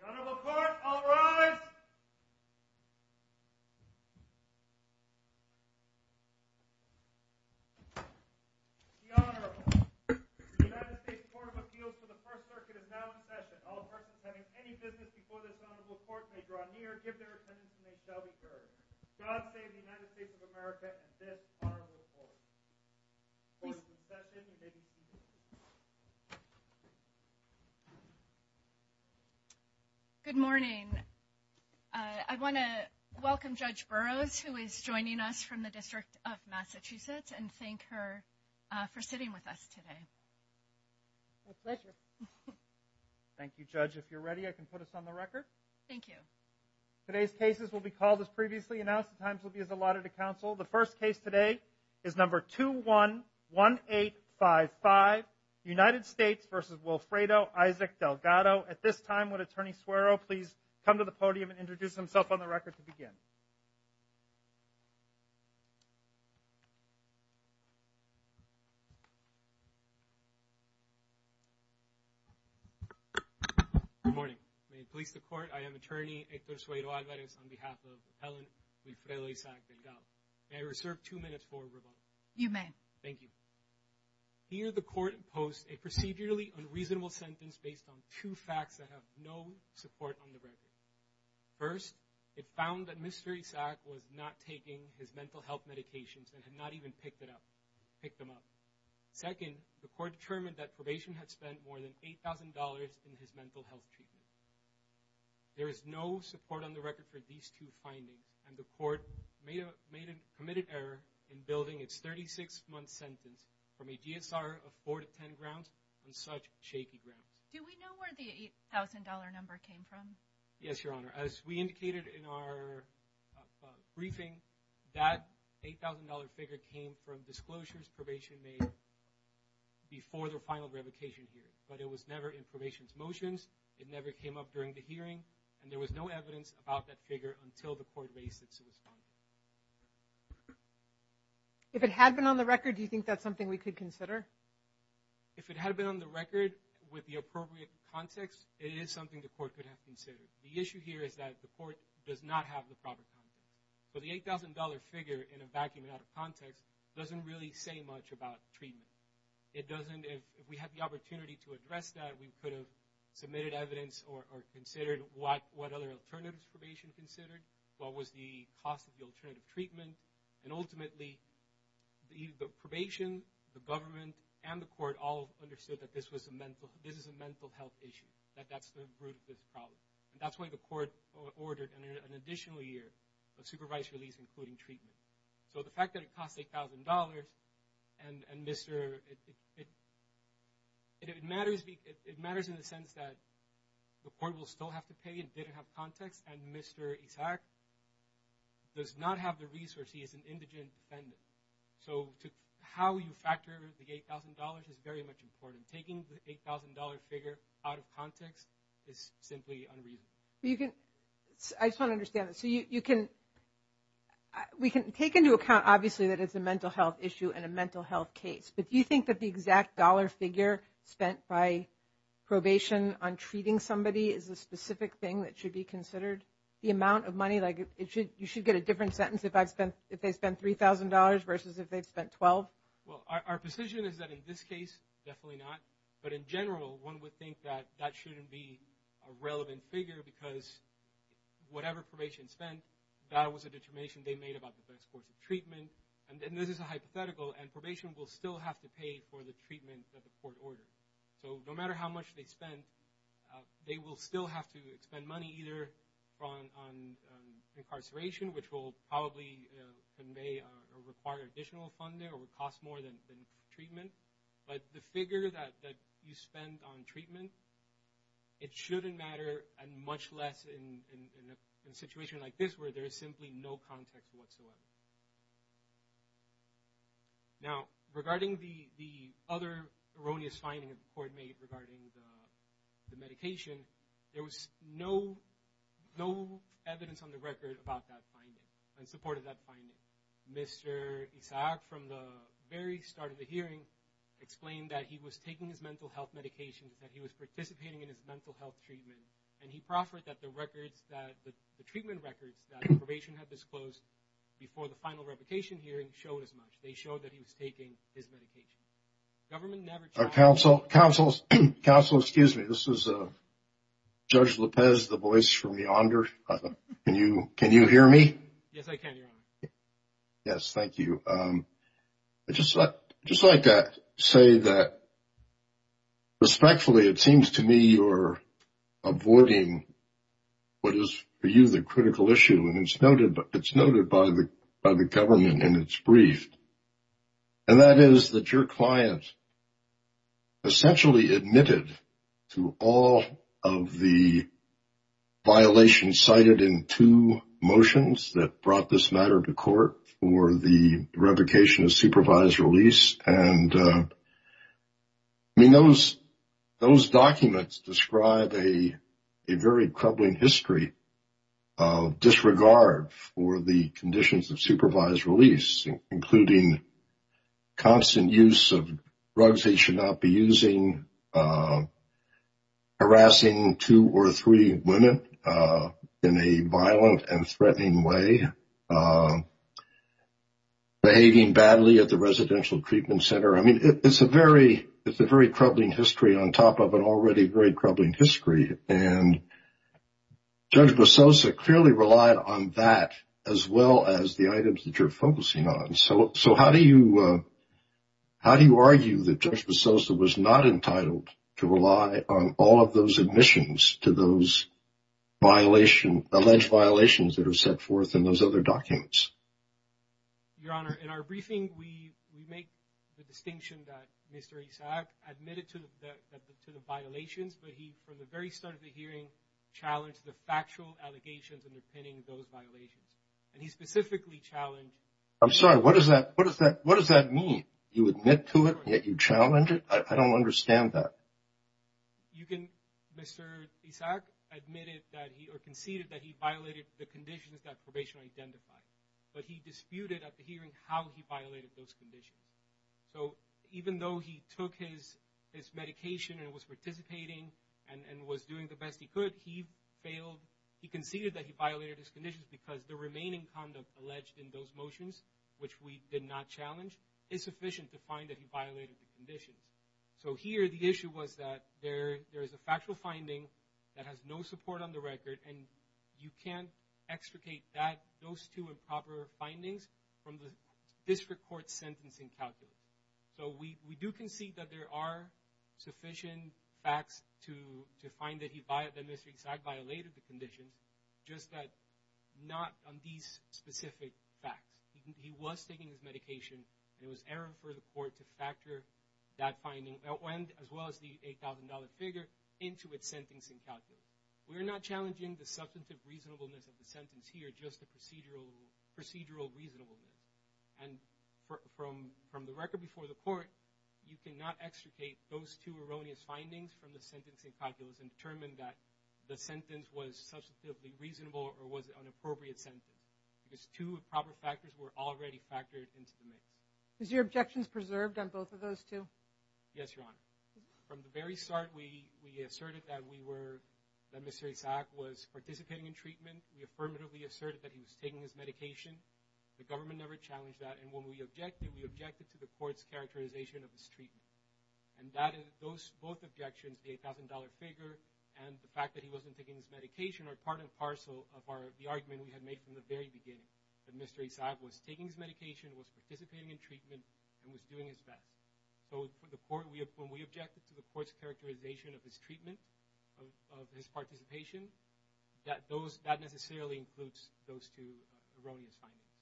The Honorable Court, all rise! The Honorable, the United States Court of Appeals for the First Circuit is now in session. All persons having any business before this Honorable Court may draw near, give their attendance, and they shall be heard. God save the United States of America and this Honorable Court. Court is now set in, and may be seated. Good morning. I want to welcome Judge Burroughs, who is joining us from the District of Massachusetts, and thank her for sitting with us today. My pleasure. Thank you, Judge. If you're ready, I can put us on the record. Thank you. Today's cases will be called as previously announced. The times will be as allotted to counsel. The first case today is number 211855, United States v. Wilfredo Isaac Delgado. So at this time, would Attorney Suero please come to the podium and introduce himself on the record to begin? Good morning. May it please the Court, I am Attorney Hector Suero Alvarez on behalf of Helen Wilfredo Isaac Delgado. May I reserve two minutes for rebuttal? You may. Thank you. Here the Court imposed a procedurally unreasonable sentence based on two facts that have no support on the record. First, it found that Mr. Isaac was not taking his mental health medications and had not even picked them up. Second, the Court determined that probation had spent more than $8,000 in his mental health treatment. There is no support on the record for these two findings, and the Court made a committed error in building its 36-month sentence from a DSR of 4 to 10 grounds on such shaky grounds. Do we know where the $8,000 number came from? Yes, Your Honor. As we indicated in our briefing, that $8,000 figure came from disclosures probation made before the final revocation hearing, but it was never in probation's motions. It never came up during the hearing, and there was no evidence about that figure until the Court raised its responsibility. If it had been on the record, do you think that's something we could consider? If it had been on the record with the appropriate context, it is something the Court could have considered. The issue here is that the Court does not have the proper context. So the $8,000 figure in a vacuum and out of context doesn't really say much about treatment. If we had the opportunity to address that, we could have submitted evidence or considered what other alternatives probation considered, what was the cost of the alternative treatment, and ultimately the probation, the government, and the Court all understood that this is a mental health issue, that that's the root of this problem. That's why the Court ordered an additional year of supervised release, including treatment. So the fact that it cost $8,000, it matters in the sense that the Court will still have to pay, it didn't have context, and Mr. Isaac does not have the resources, he is an indigent defendant. So how you factor the $8,000 is very much important. Taking the $8,000 figure out of context is simply unreasonable. You can, I just want to understand this. So you can, we can take into account obviously that it's a mental health issue and a mental health case. But do you think that the exact dollar figure spent by probation on treating somebody is a specific thing that should be considered? The amount of money, like you should get a different sentence if they spent $3,000 versus if they spent $12,000? Well, our position is that in this case, definitely not. But in general, one would think that that shouldn't be a relevant figure because whatever probation spent, that was a determination they made about the best course of treatment. And this is a hypothetical, and probation will still have to pay for the treatment that the Court ordered. So no matter how much they spend, they will still have to spend money either on incarceration, which will probably convey or require additional funding or would cost more than treatment. But the figure that you spend on treatment, it shouldn't matter, and much less in a situation like this where there is simply no context whatsoever. Now, regarding the other erroneous finding the Court made regarding the medication, there was no evidence on the record about that finding and supported that finding. Mr. Isaac, from the very start of the hearing, explained that he was taking his mental health medication, that he was participating in his mental health treatment, and he proffered that the records, that the treatment records that probation had disclosed before the final replication hearing showed as much. They showed that he was taking his medication. Council, excuse me, this is Judge Lopez, the voice from yonder. Can you hear me? Yes, I can, Your Honor. Yes, thank you. I'd just like to say that, respectfully, it seems to me you're avoiding what is for you the critical issue, and it's noted by the government in its brief, and that is that your client essentially admitted to all of the violations cited in two motions that brought this matter to court for the replication of supervised release. And, I mean, those documents describe a very troubling history of disregard for the conditions of supervised release, including constant use of drugs he should not be using, harassing two or three women in a violent and threatening way, behaving badly at the residential treatment center. I mean, it's a very troubling history on top of an already very troubling history, and Judge Basosa clearly relied on that as well as the items that you're focusing on. So how do you argue that Judge Basosa was not entitled to rely on all of those admissions to those alleged violations that are set forth in those other documents? Your Honor, in our briefing, we make the distinction that Mr. Isaac admitted to the violations, but he, from the very start of the hearing, challenged the factual allegations underpinning those violations. And he specifically challenged – I'm sorry, what does that mean? You admit to it, yet you challenge it? I don't understand that. You can – Mr. Isaac admitted that he – or conceded that he violated the conditions that probation identified, but he disputed at the hearing how he violated those conditions. So even though he took his medication and was participating and was doing the best he could, he failed – he conceded that he violated his conditions because the remaining conduct alleged in those motions, which we did not challenge, is sufficient to find that he violated the conditions. So here the issue was that there is a factual finding that has no support on the record, and you can't extricate that – those two improper findings from the district court's sentencing calculation. So we do concede that there are sufficient facts to find that he – that Mr. Isaac violated the conditions, just that not on these specific facts. He was taking his medication, and it was error for the court to factor that finding, as well as the $8,000 figure, into its sentencing calculation. We're not challenging the substantive reasonableness of the sentence here, just the procedural reasonableness. And from the record before the court, you cannot extricate those two erroneous findings from the sentencing calculus and determine that the sentence was substantively reasonable or was an appropriate sentence, because two improper factors were already factored into the mix. Is your objections preserved on both of those two? Yes, Your Honor. From the very start, we asserted that we were – that Mr. Isaac was participating in treatment. We affirmatively asserted that he was taking his medication. The government never challenged that, and when we objected, we objected to the court's characterization of his treatment. And that is – those – both objections, the $8,000 figure and the fact that he wasn't taking his medication, are part and parcel of our – the argument we had made from the very beginning, that Mr. Isaac was taking his medication, was participating in treatment, and was doing his best. So the court – when we objected to the court's characterization of his treatment, of his participation, that those – that necessarily includes those two erroneous findings.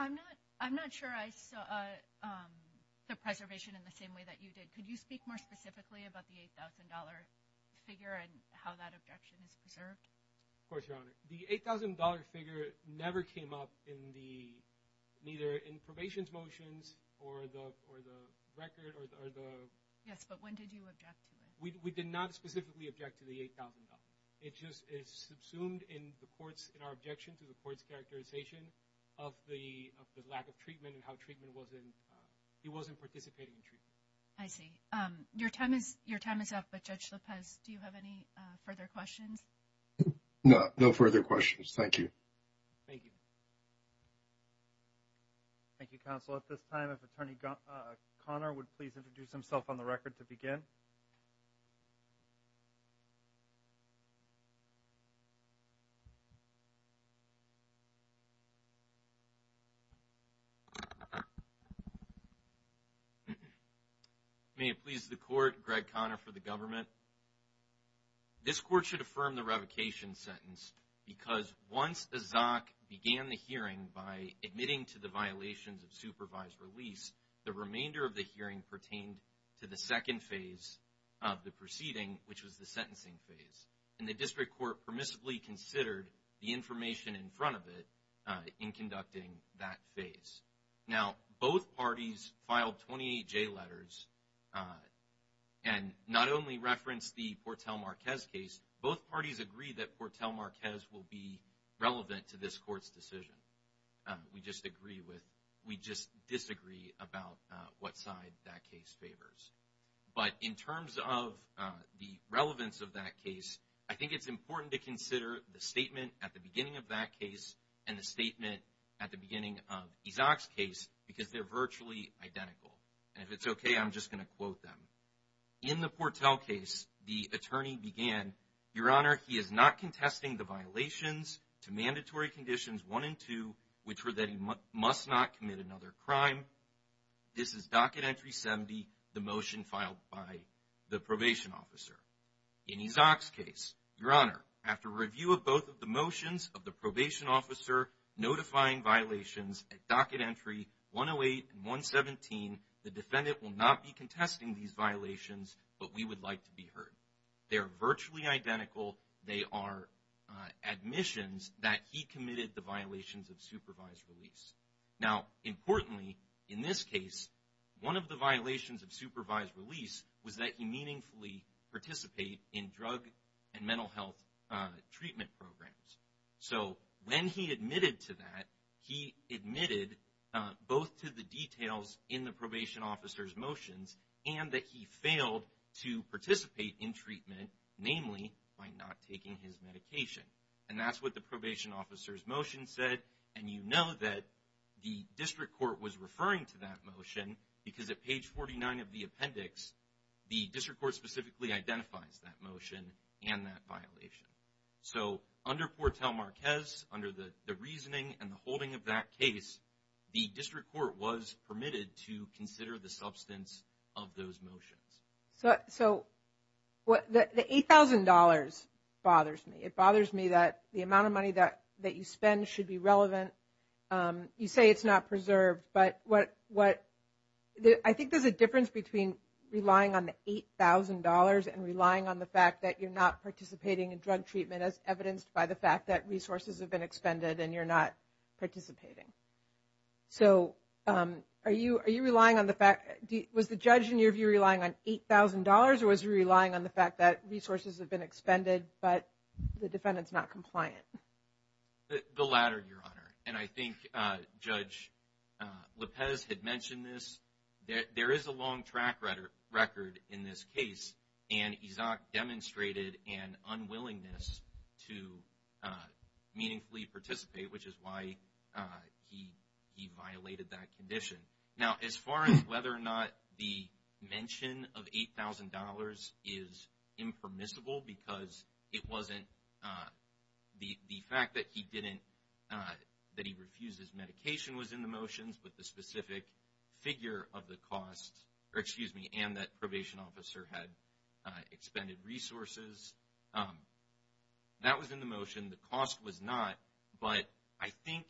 I'm not – I'm not sure I saw the preservation in the same way that you did. Could you speak more specifically about the $8,000 figure and how that objection is preserved? Of course, Your Honor. The $8,000 figure never came up in the – neither in probation's motions or the record or the – Yes, but when did you object to it? We did not specifically object to the $8,000. It just is subsumed in the court's – in our objection to the court's characterization of the lack of treatment and how treatment wasn't – he wasn't participating in treatment. I see. Your time is – your time is up, but Judge Lopez, do you have any further questions? No, no further questions. Thank you. Thank you. Thank you, counsel. At this time, if Attorney Conner would please introduce himself on the record to begin. May it please the court, Greg Conner for the government. This court should affirm the revocation sentence because once a ZOC began the hearing by admitting to the violations of supervised release, the remainder of the hearing pertained to the second phase of the proceeding, which was the sentencing phase. And the district court permissibly considered the information in front of it in conducting that phase. Now, both parties filed 28J letters and not only referenced the Portel Marquez case, both parties agreed that Portel Marquez will be relevant to this court's decision. We just agree with – we just disagree about what side that case favors. But in terms of the relevance of that case, I think it's important to consider the statement at the beginning of that ZOC's case because they're virtually identical. And if it's okay, I'm just going to quote them. In the Portel case, the attorney began, Your Honor, he is not contesting the violations to mandatory conditions 1 and 2, which were that he must not commit another crime. This is docket entry 70, the motion filed by the probation officer. In his ZOC's case, Your Honor, after review of both of the motions of the probation officer notifying violations at docket entry 108 and 117, the defendant will not be contesting these violations, but we would like to be heard. They are virtually identical. They are admissions that he committed the violations of supervised release. Now, importantly, in this case, one of the violations of supervised release was that he meaningfully participate in drug and mental health treatment programs. So when he admitted to that, he admitted both to the details in the probation officer's motions and that he failed to participate in treatment, namely by not taking his medication. And that's what the probation officer's motion said. And you know that the district court was referring to that motion because at page 49 of the appendix, the district court specifically identifies that motion and that violation. So under Fortel Marquez, under the reasoning and the holding of that case, the district court was permitted to consider the substance of those motions. So the $8,000 bothers me. It bothers me that the amount of money that you spend should be relevant. You say it's not preserved, but I think there's a difference between relying on the $8,000 and relying on the fact that you're not participating in drug treatment as evidenced by the fact that resources have been expended and you're not participating. So are you relying on the fact – was the judge in your view relying on $8,000 or was he relying on the fact that resources have been expended but the defendant's not compliant? The latter, Your Honor. And I think Judge Lopez had mentioned this. There is a long track record in this case, and Izak demonstrated an unwillingness to meaningfully participate, which is why he violated that condition. Now as far as whether or not the mention of $8,000 is impermissible because it wasn't – the fact that he refused his medication was in the motions, but the specific figure of the cost and that probation officer had expended resources, that was in the motion. The cost was not, but I think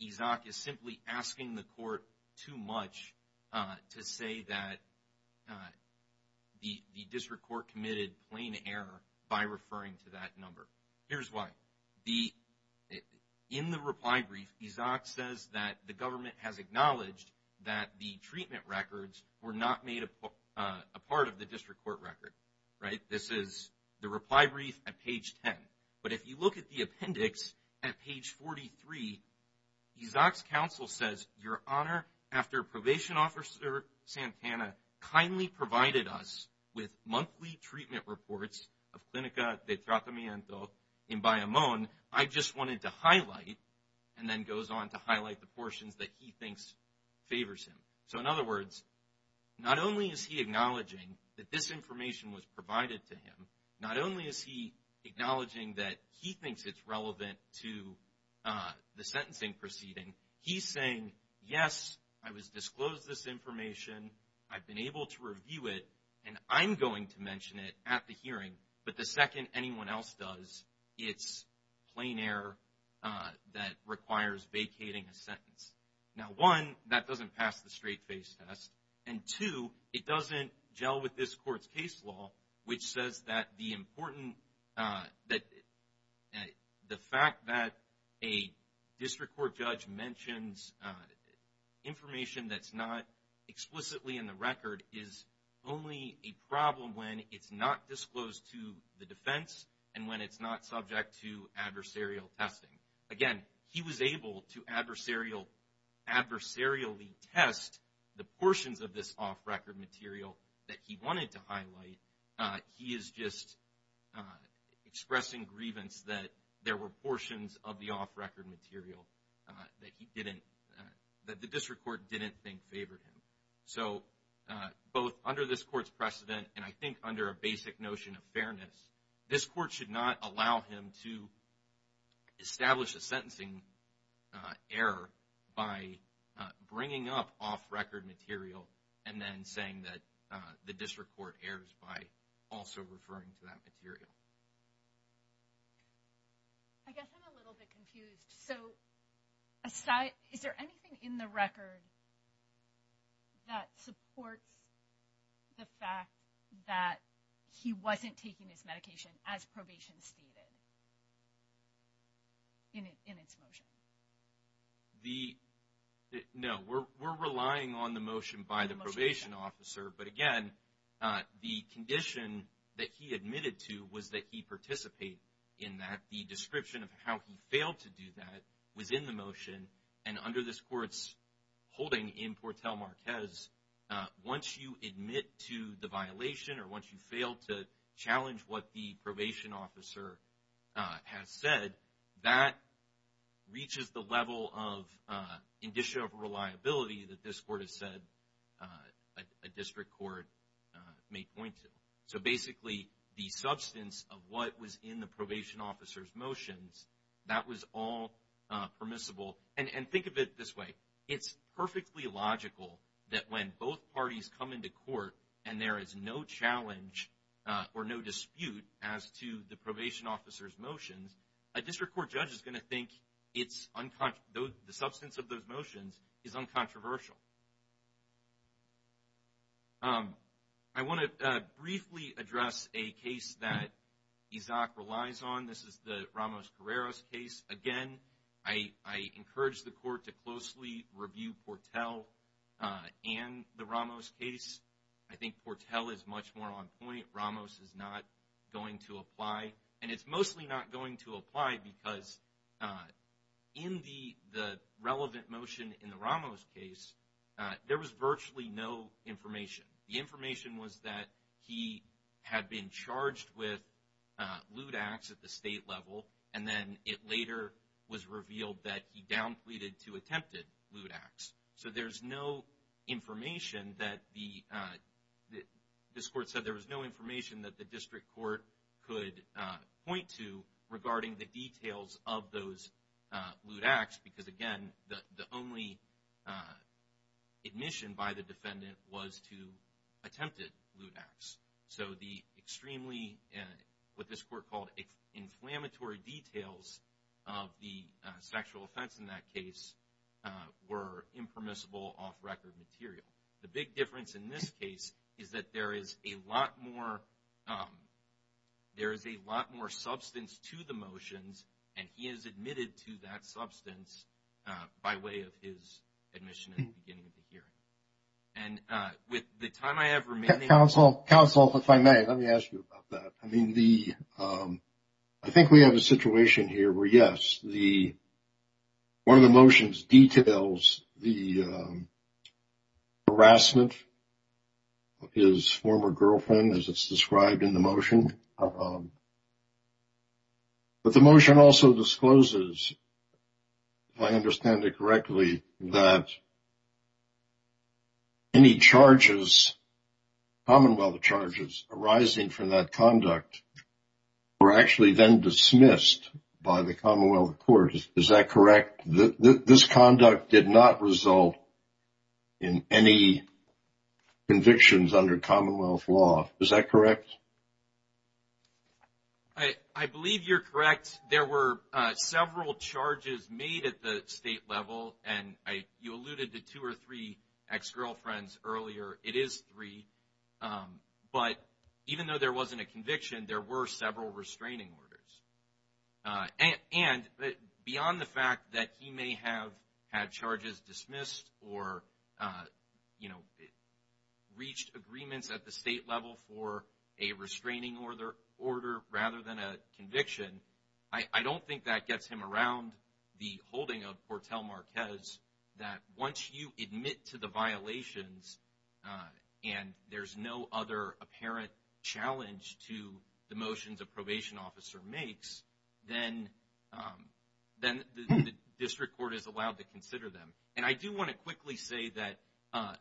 Izak is simply asking the court too much to say that the district court committed plain error by referring to that number. Here's why. In the reply brief, Izak says that the government has acknowledged that the treatment records were not made a part of the district court record, right? This is the reply brief at page 10. But if you look at the appendix at page 43, Izak's counsel says, Your Honor, after probation officer Santana kindly provided us with monthly treatment reports of Clinica de Tratamiento in Bayamón, I just wanted to highlight, and then goes on to highlight the portions that he thinks favors him. So in other words, not only is he acknowledging that this information was provided to him, not only is he acknowledging that he thinks it's relevant to the sentencing proceeding, he's saying, Yes, I was disclosed this information, I've been able to review it, and I'm going to mention it at the hearing, but the second anyone else does, it's plain error that requires vacating a sentence. Now, one, that doesn't pass the straight face test, and two, it doesn't gel with this court's case law, which says that the fact that a district court judge mentions information that's not explicitly in the record is only a problem when it's not disclosed to the defense and when it's not subject to adversarial testing. Again, he was able to adversarially test the portions of this off-record material that he wanted to highlight. He is just expressing grievance that there were portions of the off-record material that the district court didn't think favored him. So both under this court's precedent and I think under a basic notion of fairness, this court should not allow him to establish a sentencing error by bringing up off-record material and then saying that the district court errs by also referring to that material. I guess I'm a little bit confused. So is there anything in the record that supports the fact that he wasn't taking his medication as probation stated in its motion? No, we're relying on the motion by the probation officer. But again, the condition that he admitted to was that he participate in that. The description of how he failed to do that was in the motion and under this court's holding in Portel Marquez, once you admit to the violation or once you fail to challenge what the probation officer has said, that reaches the level of indicia of reliability that this court has said a district court may point to. So basically, the substance of what was in the probation officer's motions, that was all permissible. And think of it this way, it's perfectly logical that when both parties come into court and there is no challenge or no dispute as to the probation officer's motions, a district court judge is going to think the substance of those motions is uncontroversial. I want to briefly address a case that ISAC relies on. This is the Ramos-Carreras case. Again, I encourage the court to closely review Portel and the Ramos case. I think Portel is much more on point. Ramos is not going to apply. And it's mostly not going to apply because in the relevant motion in the Ramos case, there was virtually no information. The information was that he had been charged with lewd acts at the state level, and then it later was revealed that he down pleaded to attempted lewd acts. So there's no information that the – this court said there was no information that the district court could point to attempted lewd acts. So the extremely – what this court called inflammatory details of the sexual offense in that case were impermissible, off-record material. The big difference in this case is that there is a lot more – there is a lot more substance to the motions, and he is admitted to that substance by way of his admission at the beginning of the hearing. And with the time I have remaining – Counsel, counsel, if I may, let me ask you about that. I mean, the – I think we have a situation here where, yes, the – one of the motions details the harassment of his former girlfriend, as it's described in the motion. But the motion also discloses, if I understand it correctly, that any charges, commonwealth charges arising from that conduct were actually then dismissed by the commonwealth court. Is that correct? This conduct did not result in any convictions under commonwealth law. Is that correct? I believe you're correct. There were several charges made at the state level, and you alluded to two or three ex-girlfriends earlier. It is three. But even though there wasn't a conviction, there were several restraining orders. And beyond the fact that he may have had charges dismissed or, you know, reached agreements at the state level for a restraining order rather than a conviction, I don't think that gets him around the holding of Portel Marquez that once you admit to the violations and there's no other apparent challenge to the motions a probation officer makes, then the district court is allowed to consider them. And I do want to quickly say that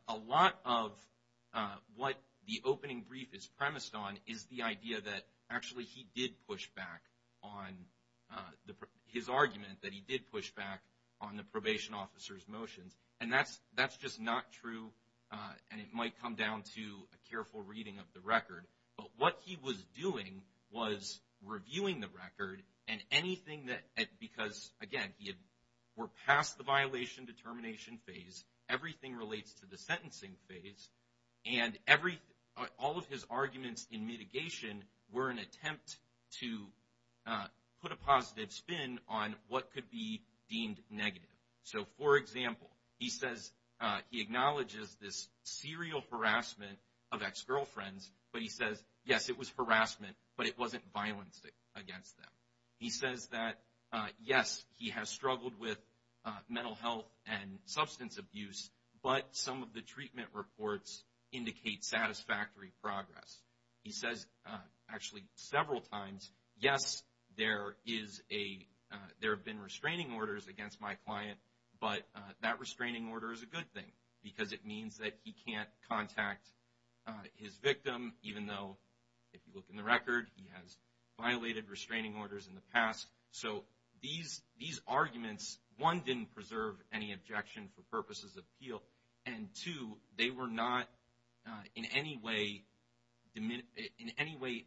a lot of what the opening brief is premised on is the idea that, actually, he did push back on the – his argument that he did push back on the probation officer's motions. And that's just not true, and it might come down to a careful reading of the record. But what he was doing was reviewing the record and anything that – because, again, we're past the violation determination phase, everything relates to the sentencing phase, and all of his arguments in mitigation were an attempt to put a positive spin on what could be deemed negative. So, for example, he says – he acknowledges this serial harassment of ex-girlfriends, but he says, yes, it was harassment, but it wasn't violence against them. He says that, yes, he has struggled with mental health and substance abuse, but some of the treatment reports indicate satisfactory progress. He says, actually, several times, yes, there is a – there have been restraining orders against my client, but that restraining order is a good thing because it means that he can't contact his victim, even though, if you look in the record, he has violated restraining orders in the past. So these arguments, one, didn't preserve any objection for purposes of appeal, and, two, they were not in any way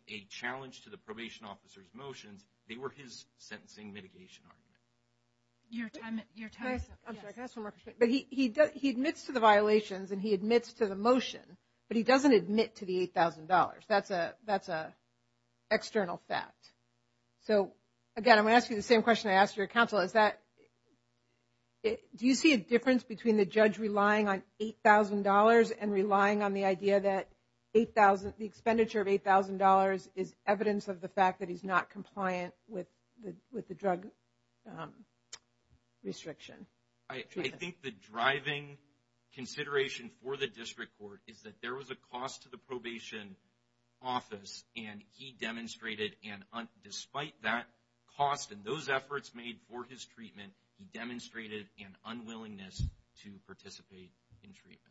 a challenge to the probation officer's motions. They were his sentencing mitigation argument. Your time is up. I'm sorry, can I ask one more question? But he admits to the violations and he admits to the motion, but he doesn't admit to the $8,000. That's an external fact. So, again, I'm going to ask you the same question I asked your counsel. Is that – do you see a difference between the judge relying on $8,000 and relying on the idea that the expenditure of $8,000 is evidence of the fact that he's not compliant with the drug restriction? I think the driving consideration for the district court is that there was a cost to the probation office, and he demonstrated, and despite that cost and those efforts made for his treatment, he demonstrated an unwillingness to participate in treatment.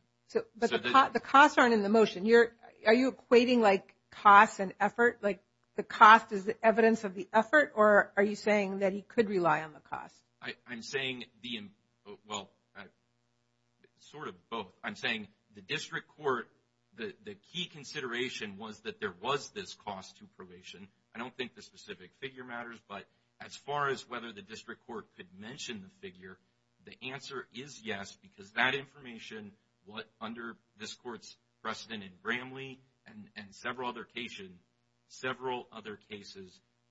But the costs aren't in the motion. Are you equating, like, costs and effort? Like, the cost is the evidence of the effort, or are you saying that he could rely on the cost? I'm saying the – well, sort of both. I'm saying the district court – the key consideration was that there was this cost to probation. I don't think the specific figure matters, but as far as whether the district court could mention the figure, the answer is yes, because that information, under this court's precedent in Bramley and several other cases,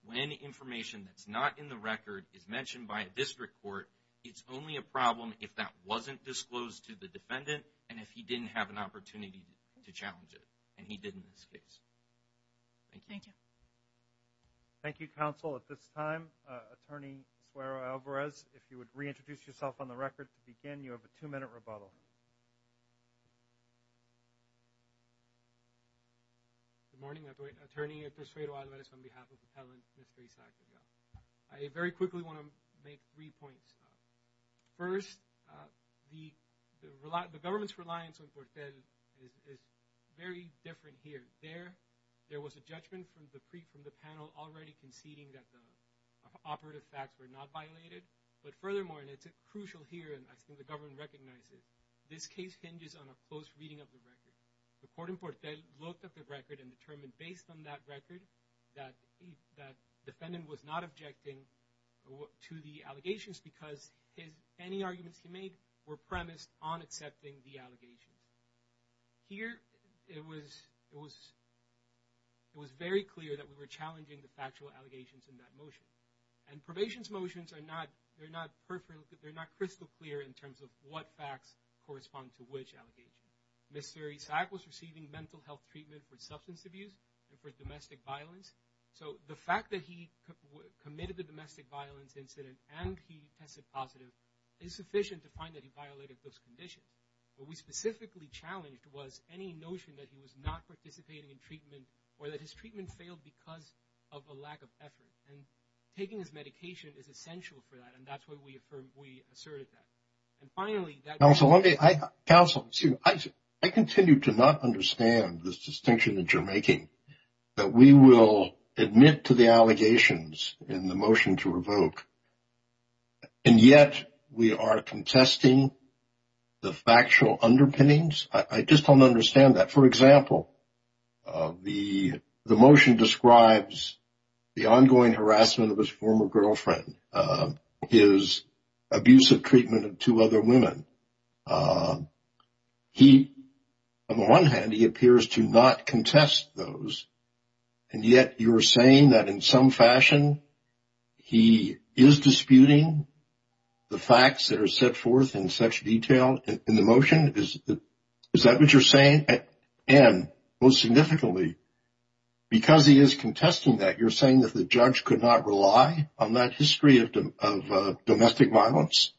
when information that's not in the record is mentioned by a district court, it's only a problem if that wasn't disclosed to the defendant and if he didn't have an opportunity to challenge it, and he did in this case. Thank you. Thank you. Thank you, counsel. At this time, Attorney Suero-Alvarez, if you would reintroduce yourself on the record to begin, you have a two-minute rebuttal. Good morning. Attorney At this rate, I'll let it on behalf of the patent, Mr. Esaccio. I very quickly want to make three points. First, the government's reliance on Portel is very different here. There was a judgment from the panel already conceding that the operative facts were not violated, but furthermore, and it's crucial here, and I think the government recognizes, this case hinges on a close reading of the record. The court in Portel looked at the record and determined based on that record that the defendant was not objecting to the allegations because any arguments he made were premised on accepting the allegations. Here, it was very clear that we were challenging the factual allegations in that motion, and probation's motions are not crystal clear in terms of what facts correspond to which allegations. Mr. Esac was receiving mental health treatment for substance abuse and for domestic violence, so the fact that he committed the domestic violence incident and he tested positive is sufficient to find that he violated those conditions. What we specifically challenged was any notion that he was not participating in treatment or that his treatment failed because of a lack of effort, and taking his medication is essential for that, and that's why we asserted that. Counsel, I continue to not understand this distinction that you're making, that we will admit to the allegations in the motion to revoke, and yet we are contesting the factual underpinnings. I just don't understand that. For example, the motion describes the ongoing harassment of his former girlfriend, his abusive treatment of two other women. On the one hand, he appears to not contest those, and yet you're saying that in some fashion he is disputing the facts that are set forth in such detail in the motion? Is that what you're saying? And most significantly, because he is contesting that, you're saying that the judge could not rely on that history of domestic violence?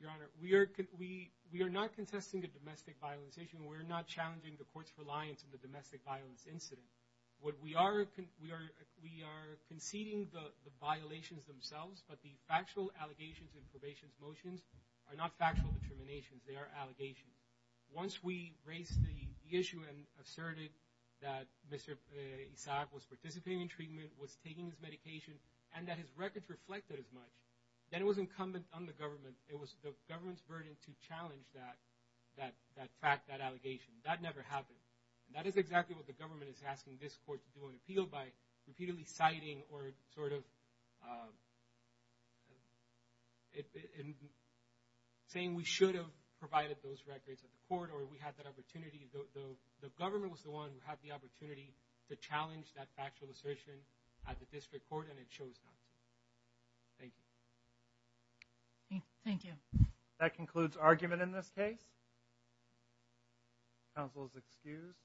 Your Honor, we are not contesting the domestic violence issue and we're not challenging the court's reliance on the domestic violence incident. We are conceding the violations themselves, but the factual allegations in probation's motions are not factual determinations. They are allegations. Once we raised the issue and asserted that Mr. Isaac was participating in treatment, was taking his medication, and that his records reflected as much, then it was incumbent on the government. It was the government's burden to challenge that fact, that allegation. That never happened. That is exactly what the government is asking this court to do on appeal, by repeatedly citing or sort of saying we should have provided those records at the court or we had that opportunity. The government was the one who had the opportunity to challenge that factual assertion at the district court, and it shows not to. Thank you. Thank you. That concludes argument in this case. Counsel is excused.